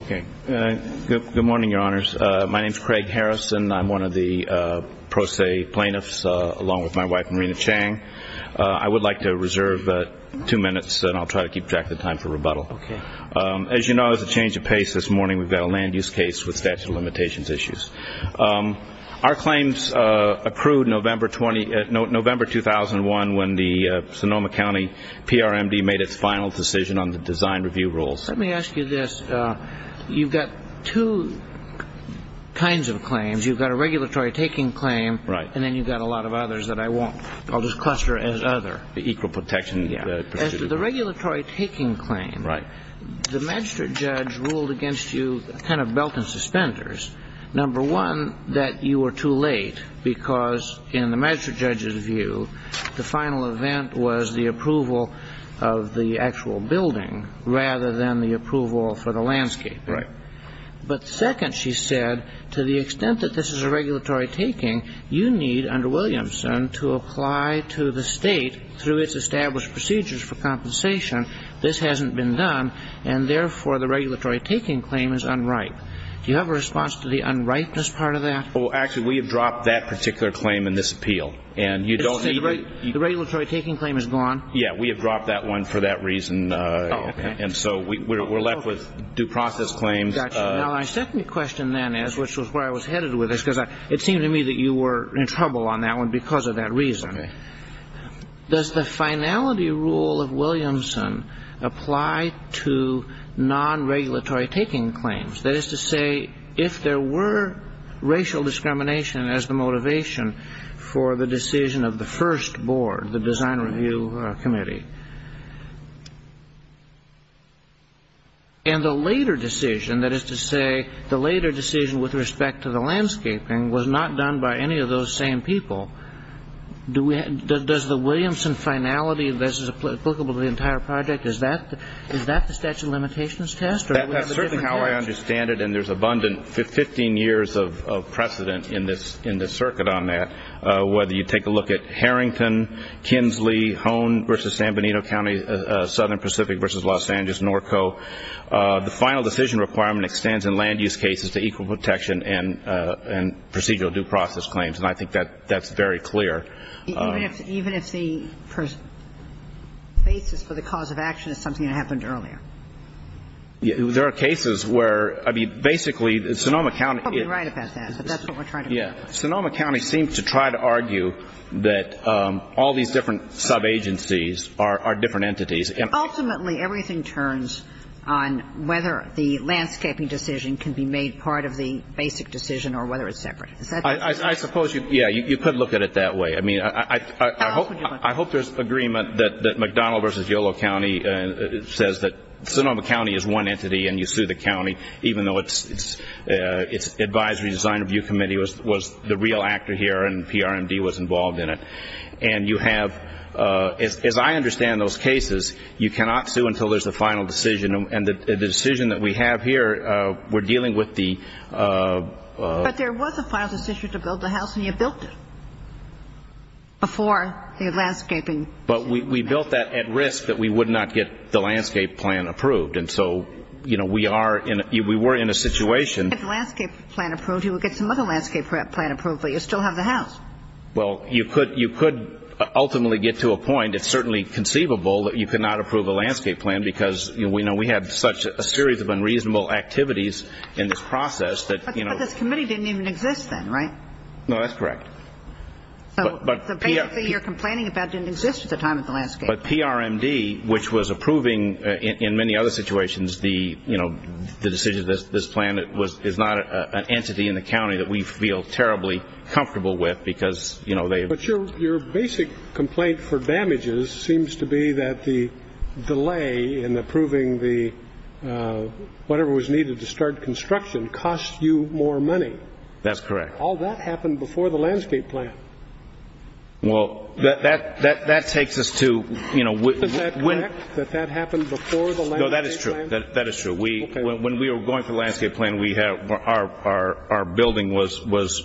County PRMD made its final decision on the design review rules. Let me ask you this. You've got two kinds of claims. You've got a regulatory-taking claim, and then you've got a lot of others that I won't. I'll just cluster as other. The equal protection. The regulatory-taking claim. Right. The magistrate judge ruled against you kind of belt and suspenders. Number one, that you were too late, because in the magistrate judge's view, the final event was the approval of the actual building rather than the approval for the landscape. Right. But second, she said, to the extent that this is a regulatory-taking, you need, under Williamson, to apply to the State through its established procedures for compensation. This hasn't been done, and therefore, the regulatory-taking claim is unripe. Do you have a response to the unripeness part of that? Well, actually, we have dropped that particular claim in this appeal. And you don't need to. The regulatory-taking claim is gone? Yeah. We have dropped that one for that reason. Oh, okay. And so we're left with due process claims. Now, my second question then is, which was where I was headed with this, because it seemed to me that you were in trouble on that one because of that reason. Does the finality rule of Williamson apply to non-regulatory-taking claims? That is to say, if there were racial discrimination as the motivation for the decision of the first board, the Design Review Committee, and the later decision, that is to say, the later decision with respect to the landscaping was not done by any of those same people, does the Williamson finality that is applicable to the entire project, is that the statute of limitations test? That's certainly how I understand it, and there's abundant 15 years of precedent in the circuit on that, whether you take a look at Harrington, Kinsley, Hone v. San Benito County, Southern Pacific v. Los Angeles, Norco. The final decision requirement extends in land-use cases to equal protection and procedural due process claims, and I think that's very clear. Even if the basis for the cause of action is something that happened earlier? There are cases where, I mean, basically, Sonoma County. You're probably right about that, but that's what we're trying to do. Sonoma County seems to try to argue that all these different sub-agencies are different entities. Ultimately, everything turns on whether the landscaping decision can be made part of the basic decision or whether it's separate. I suppose you could look at it that way. I hope there's agreement that McDonald v. Yolo County says that Sonoma County is one entity and you sue the county, even though its advisory design review committee was the real actor here and PRMD was involved in it. And you have, as I understand those cases, you cannot sue until there's a final decision, and the decision that we have here, we're dealing with the- But there was a final decision to build the house, and you built it before the landscaping. But we built that at risk that we would not get the landscape plan approved. And so, you know, we were in a situation- If you get the landscape plan approved, you would get some other landscape plan approved, but you still have the house. Well, you could ultimately get to a point. It's certainly conceivable that you could not approve a landscape plan because, you know, we had such a series of unreasonable activities in this process that, you know- But this committee didn't even exist then, right? No, that's correct. So the basic thing you're complaining about didn't exist at the time of the landscape. But PRMD, which was approving in many other situations the, you know, the decision, this plan is not an entity in the county that we feel terribly comfortable with because, you know- But your basic complaint for damages seems to be that the delay in approving the- whatever was needed to start construction costs you more money. That's correct. All that happened before the landscape plan. Well, that takes us to- Is that correct, that that happened before the landscape plan? No, that is true. That is true. When we were going for the landscape plan, our building was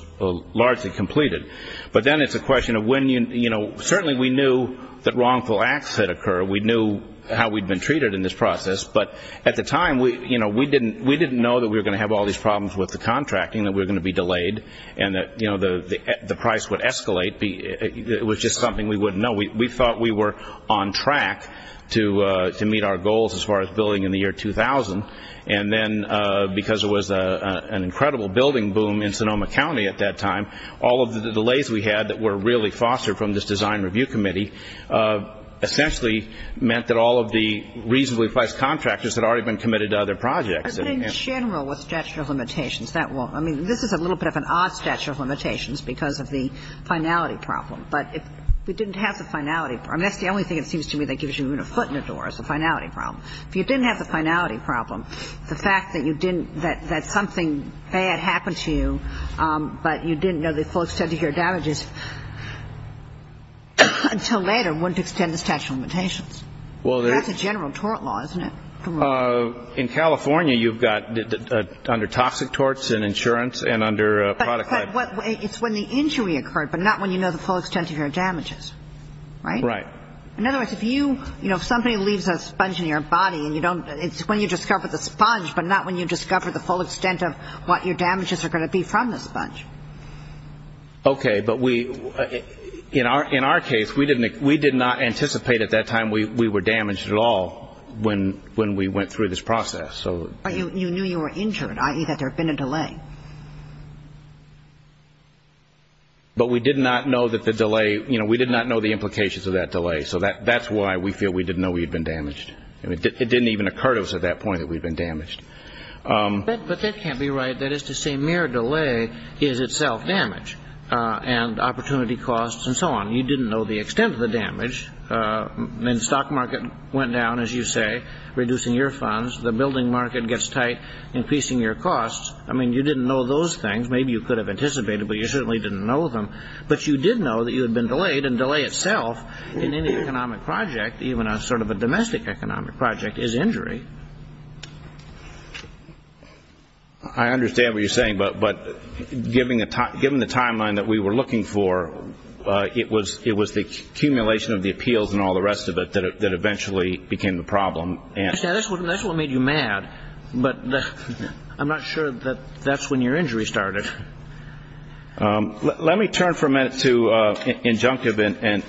largely completed. But then it's a question of when you- You know, certainly we knew that wrongful acts had occurred. We knew how we'd been treated in this process. But at the time, you know, we didn't know that we were going to have all these problems with the contracting, that we were going to be delayed, and that, you know, the price would escalate. It was just something we wouldn't know. We thought we were on track to meet our goals as far as building in the year 2000. And then because it was an incredible building boom in Sonoma County at that time, all of the delays we had that were really fostered from this design review committee essentially meant that all of the reasonably priced contractors had already been committed to other projects. But in general with statute of limitations, that won't- I mean, this is a little bit of an odd statute of limitations because of the finality problem. But if we didn't have the finality- I mean, that's the only thing it seems to me that gives you even a foot in the door is the finality problem. If you didn't have the finality problem, the fact that you didn't-that something bad happened to you, but you didn't know the full extent of your damages until later wouldn't extend the statute of limitations. Well, there's- That's a general tort law, isn't it? In California, you've got under toxic torts and insurance and under- But it's when the injury occurred, but not when you know the full extent of your damages, right? Right. In other words, if you-you know, if somebody leaves a sponge in your body and you don't- it's when you discover the sponge, but not when you discover the full extent of what your damages are going to be from the sponge. Okay. But we-in our case, we didn't-we did not anticipate at that time we were damaged at all when we went through this process. So- But you knew you were injured, i.e., that there had been a delay. But we did not know that the delay-you know, we did not know the implications of that delay. So that's why we feel we didn't know we'd been damaged. It didn't even occur to us at that point that we'd been damaged. But that can't be right. That is to say, mere delay is itself damage and opportunity costs and so on. You didn't know the extent of the damage. I mean, the stock market went down, as you say, reducing your funds. The building market gets tight, increasing your costs. I mean, you didn't know those things. Maybe you could have anticipated, but you certainly didn't know them. But you did know that you had been delayed, and delay itself in any economic project, even a sort of a domestic economic project, is injury. I understand what you're saying, but given the timeline that we were looking for, it was the accumulation of the appeals and all the rest of it that eventually became the problem. That's what made you mad, but I'm not sure that that's when your injury started. Let me turn for a minute to injunctive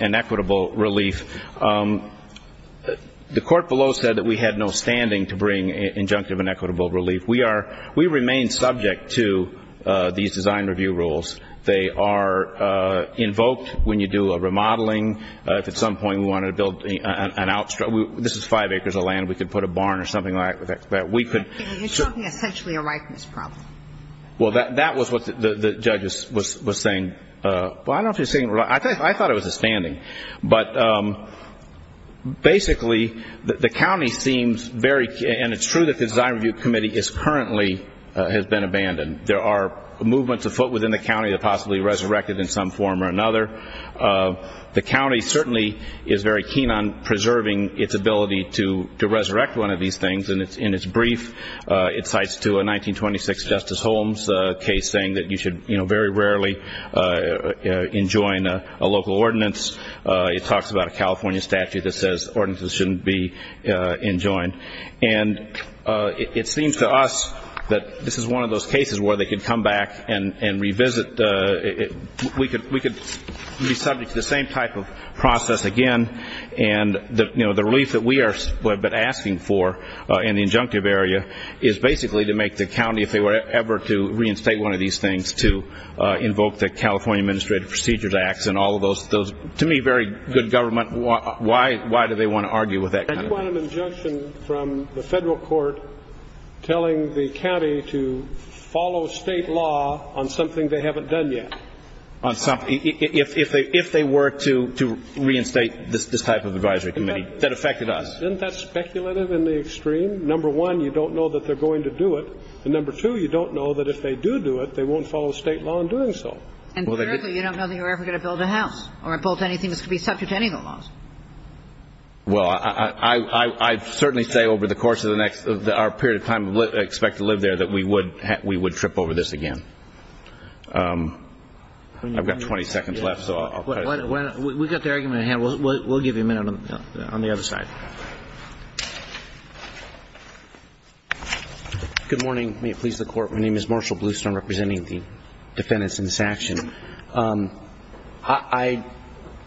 and equitable relief. The court below said that we had no standing to bring injunctive and equitable relief. We remain subject to these design review rules. They are invoked when you do a remodeling. If at some point we wanted to build an outstrip, this is five acres of land. We could put a barn or something like that. You're talking essentially a ripeness problem. Well, that was what the judge was saying. Well, I don't know if he was saying it right. I thought it was a standing. But basically, the county seems very, and it's true that the design review committee currently has been abandoned. There are movements afoot within the county that possibly resurrected in some form or another. The county certainly is very keen on preserving its ability to resurrect one of these things. In its brief, it cites to a 1926 Justice Holmes case saying that you should very rarely enjoin a local ordinance. It talks about a California statute that says ordinances shouldn't be enjoined. And it seems to us that this is one of those cases where they could come back and revisit. We could be subject to the same type of process again. The relief that we have been asking for in the injunctive area is basically to make the county, if they were ever to reinstate one of these things, to invoke the California Administrative Procedures Act and all of those, to me, very good government. Why do they want to argue with that kind of thing? And you want an injunction from the federal court telling the county to follow state law on something they haven't done yet. If they were to reinstate this type of advisory committee, that affected us. Isn't that speculative in the extreme? Number one, you don't know that they're going to do it. And number two, you don't know that if they do do it, they won't follow state law in doing so. And thirdly, you don't know that you're ever going to build a house or build anything that's going to be subject to any of the laws. Well, I certainly say over the course of our period of time we expect to live there that we would trip over this again. I've got 20 seconds left, so I'll cut it. We've got the argument at hand. We'll give you a minute on the other side. Good morning. May it please the Court. My name is Marshall Bluestone representing the defendants in this action. I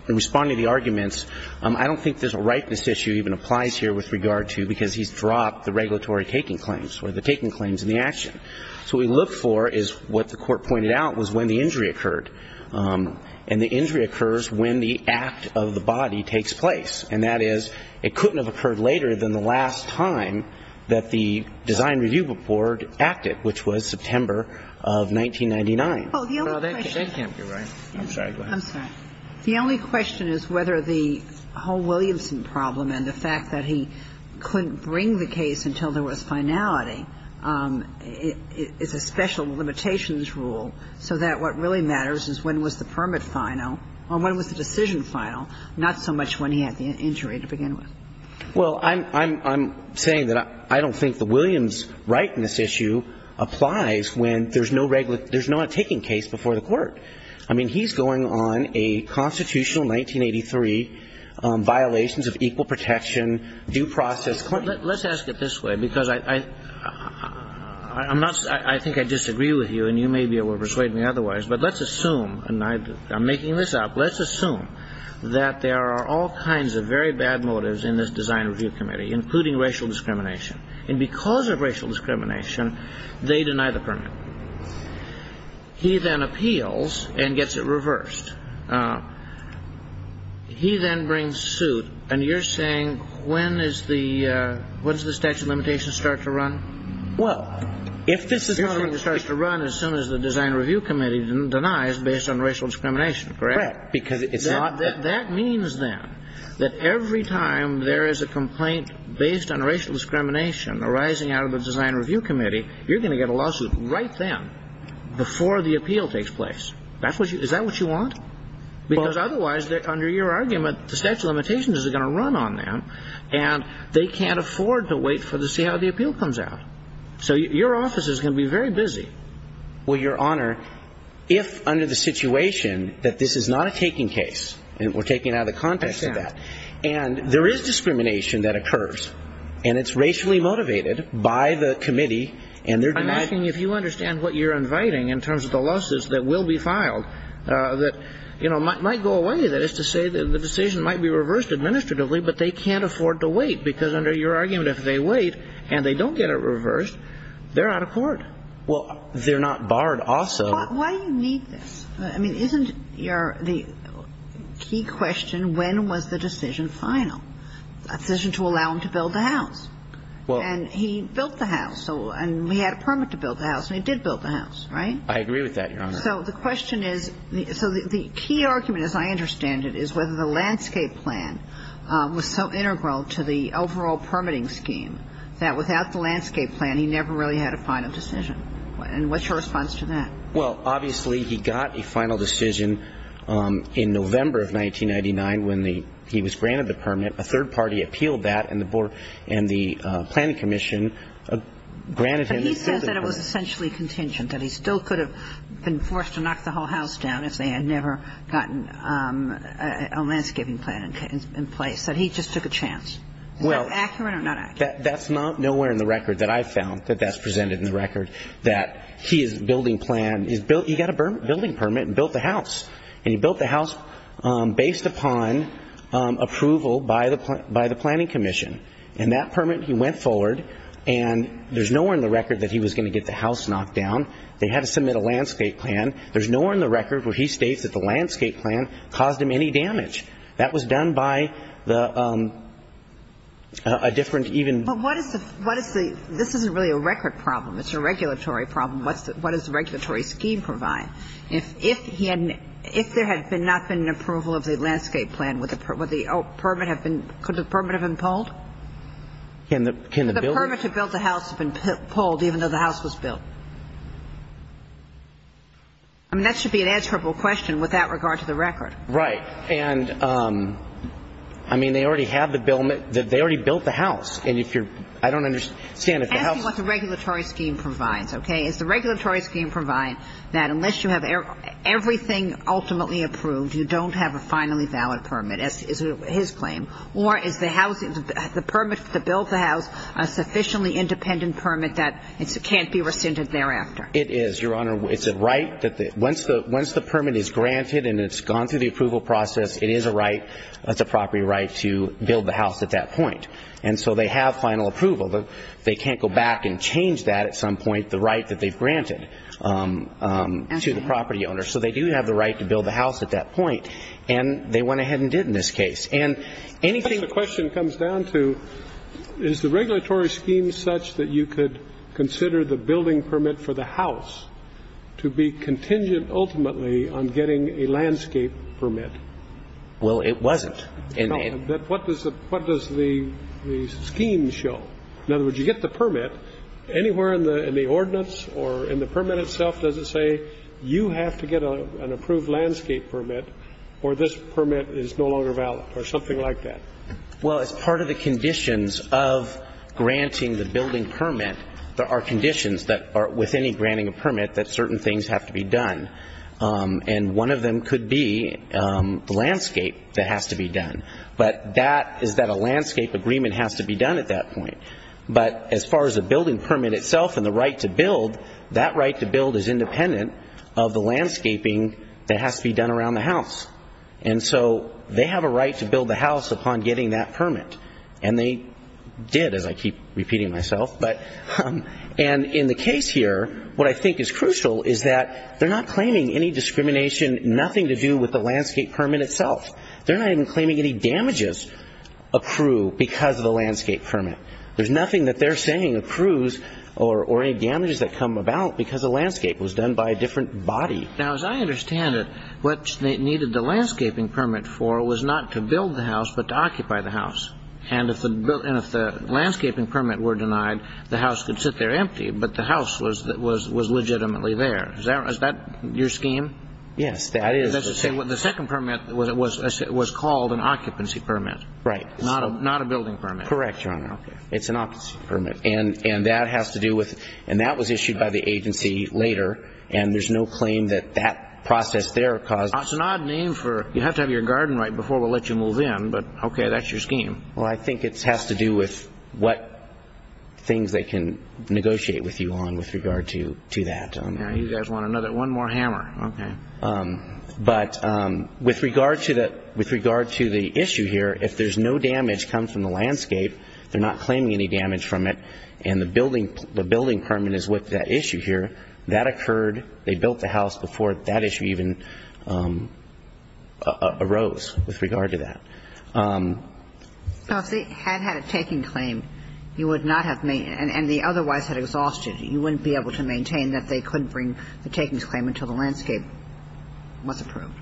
respond to the arguments. I don't think there's a rightness issue even applies here with regard to because he's dropped the regulatory taking claims or the taking claims in the action. So what we look for is what the court pointed out was when the injury occurred. And the injury occurs when the act of the body takes place. And that is it couldn't have occurred later than the last time that the design review board acted, which was September of 1999. Well, that can't be right. I'm sorry. Go ahead. I'm sorry. The only question is whether the whole Williamson problem and the fact that he couldn't bring the case until there was finality is a special limitations rule so that what really matters is when was the permit final or when was the decision final, not so much when he had the injury to begin with. Well, I'm saying that I don't think the Williams rightness issue applies when there's no regular there's not a taking case before the court. I mean, he's going on a constitutional 1983 violations of equal protection due process claim. Let's ask it this way, because I'm not I think I disagree with you and you may be able to persuade me otherwise. But let's assume and I'm making this up. Let's assume that there are all kinds of very bad motives in this design review committee, including racial discrimination. And because of racial discrimination, they deny the permit. He then appeals and gets it reversed. He then brings suit. And you're saying when is the what is the statute of limitations start to run? Well, if this is going to start to run as soon as the design review committee denies based on racial discrimination, correct? Because it's not. That means that that every time there is a complaint based on racial discrimination arising out of the design review committee, you're going to get a lawsuit right then before the appeal takes place. That's what you is that what you want? Because otherwise, under your argument, the statute of limitations is going to run on them and they can't afford to wait for the see how the appeal comes out. So your office is going to be very busy. Well, Your Honor, if under the situation that this is not a taking case and we're taking out of the context of that and there is discrimination that occurs and it's racially motivated by the committee and they're denying. I'm asking if you understand what you're inviting in terms of the losses that will be filed that might go away. That is to say that the decision might be reversed administratively, but they can't afford to wait because under your argument, if they wait and they don't get it reversed, they're out of court. Well, they're not barred also. Why do you need this? I mean, isn't your key question when was the decision final? A decision to allow him to build the house. Well. And he built the house. And we had a permit to build the house. And he did build the house. Right? I agree with that, Your Honor. So the question is, so the key argument as I understand it is whether the landscape plan was so integral to the overall permitting scheme that without the landscape plan, he never really had a final decision. And what's your response to that? Well, obviously, he got a final decision in November of 1999 when he was granted the permit. A third party appealed that and the planning commission granted him. But he said that it was essentially contingent, that he still could have been forced to knock the whole house down if they had never gotten a landscaping plan in place, that he just took a chance. Well. Is that accurate or not accurate? That's nowhere in the record that I found that that's presented in the record, that he is building plan. He got a building permit and built the house. And he built the house based upon approval by the planning commission. And that permit, he went forward, and there's nowhere in the record that he was going to get the house knocked down. They had to submit a landscape plan. There's nowhere in the record where he states that the landscape plan caused him any damage. That was done by a different even ---- But what is the ---- this isn't really a record problem. It's a regulatory problem. What does the regulatory scheme provide? If there had not been an approval of the landscape plan, would the permit have been ---- could the permit have been pulled? Can the building ---- Could the permit to build the house have been pulled even though the house was built? I mean, that should be an answerable question with that regard to the record. Right. And, I mean, they already have the ---- they already built the house. And if you're ---- I don't understand if the house ---- I'm asking what the regulatory scheme provides, okay? Does the regulatory scheme provide that unless you have everything ultimately approved, you don't have a finally valid permit, as is his claim? Or is the house ---- the permit to build the house a sufficiently independent permit that can't be rescinded thereafter? It is, Your Honor. It's a right that the ---- once the permit is granted and it's gone through the approval process, it is a right, it's a property right to build the house at that point. And so they have final approval. They can't go back and change that at some point, the right that they've granted to the property owner. So they do have the right to build the house at that point. And they went ahead and did in this case. And anything ---- That's what the question comes down to. Is the regulatory scheme such that you could consider the building permit for the house to be contingent ultimately on getting a landscape permit? Well, it wasn't. What does the scheme show? In other words, you get the permit. Anywhere in the ordinance or in the permit itself does it say you have to get an approved landscape permit or this permit is no longer valid or something like that? Well, as part of the conditions of granting the building permit, there are conditions that are within granting a permit that certain things have to be done. And one of them could be the landscape that has to be done. But that is that a landscape agreement has to be done at that point. But as far as the building permit itself and the right to build, that right to build is independent of the landscaping that has to be done around the house. And so they have a right to build the house upon getting that permit. And they did, as I keep repeating myself. And in the case here, what I think is crucial is that they're not claiming any discrimination, nothing to do with the landscape permit itself. They're not even claiming any damages accrue because of the landscape permit. There's nothing that they're saying accrues or any damages that come about because the landscape was done by a different body. Right. Now, as I understand it, what they needed the landscaping permit for was not to build the house but to occupy the house. And if the landscaping permit were denied, the house could sit there empty, but the house was legitimately there. Is that your scheme? Yes, that is. The second permit was called an occupancy permit. Right. Not a building permit. Correct, Your Honor. It's an occupancy permit. And that has to do with, and that was issued by the agency later, and there's no claim that that process there caused it. It's an odd name for, you have to have your garden right before we'll let you move in, but okay, that's your scheme. Well, I think it has to do with what things they can negotiate with you on with regard to that. You guys want another, one more hammer. Okay. But with regard to the issue here, if there's no damage come from the landscape, they're not claiming any damage from it, and the building permit is with that issue here, that occurred, they built the house before that issue even arose with regard to that. So if they had had a taking claim, you would not have, and they otherwise had exhausted it, you wouldn't be able to maintain that they couldn't bring the takings claim until the landscape was approved.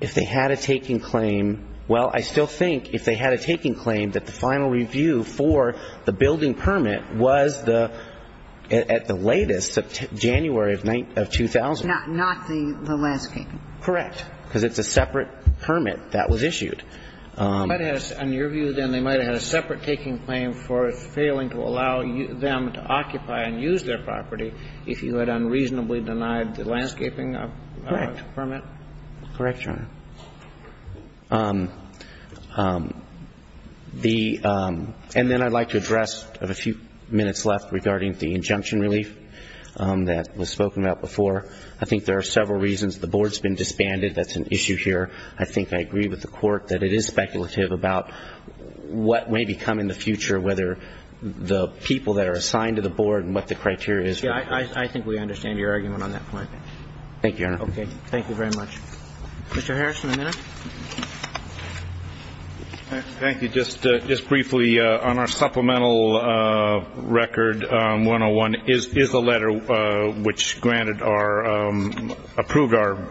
If they had a taking claim, well, I still think if they had a taking claim that the final review for the building permit was the, at the latest, January of 2000. Not the landscaping. Correct. Because it's a separate permit that was issued. On your view, then, they might have had a separate taking claim for failing to allow them to occupy and use their property if you had unreasonably denied the landscaping permit? Correct, Your Honor. And then I'd like to address, I have a few minutes left, regarding the injunction relief that was spoken about before. I think there are several reasons. The Board's been disbanded. That's an issue here. I think I agree with the Court that it is speculative about what may become in the future, whether the people that are assigned to the Board and what the criteria is. Yeah, I think we understand your argument on that point. Thank you, Your Honor. Okay. Thank you very much. Mr. Harrison, a minute. Thank you. Just briefly, on our supplemental record, 101 is the letter which granted our, approved our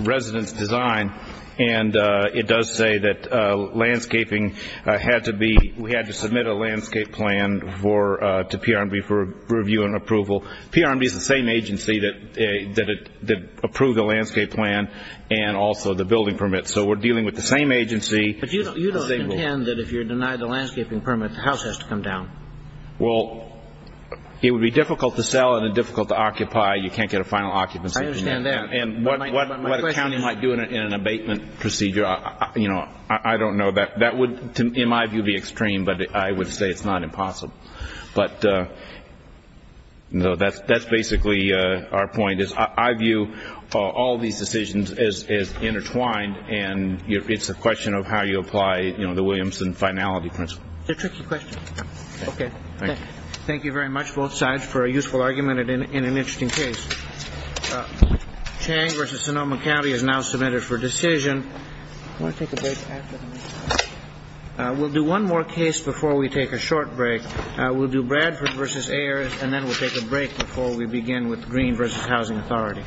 resident's design, and it does say that landscaping had to be, we had to submit a landscape plan to PRMB for review and approval. PRMB is the same agency that approved the landscape plan and also the building permit. So we're dealing with the same agency. But you don't contend that if you're denied the landscaping permit, the house has to come down. Well, it would be difficult to sell and difficult to occupy. You can't get a final occupancy. I understand that. And what a county might do in an abatement procedure, you know, I don't know. That would, in my view, be extreme, but I would say it's not impossible. But, you know, that's basically our point is I view all these decisions as intertwined, and it's a question of how you apply, you know, the Williamson finality principle. It's a tricky question. Okay. Thank you. Thank you very much, both sides, for a useful argument and an interesting case. Chang v. Sonoma County is now submitted for decision. Do you want to take a break after this? We'll do one more case before we take a short break. We'll do Bradford v. Ayers, and then we'll take a break before we begin with Green v. Housing Authority.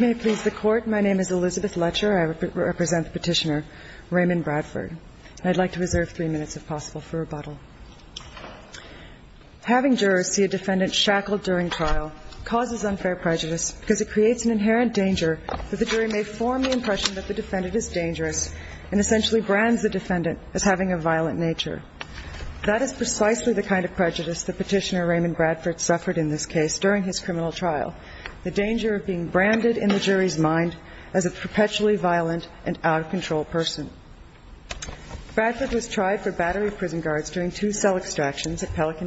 May it please the Court. My name is Elizabeth Letcher. I represent Petitioner Raymond Bradford. I'd like to reserve three minutes, if possible, for rebuttal. Having jurors see a defendant shackled during trial causes unfair prejudice because it creates an inherent danger that the jury may form the impression that the defendant is dangerous and essentially brands the defendant as having a violent nature. That is precisely the kind of prejudice that Petitioner Raymond Bradford suffered in this case during his criminal trial. The danger of being branded in the jury's mind as a perpetually violent and out-of-control person. Bradford was tried for battery of prison guards during two cell extractions at Pelican Bay.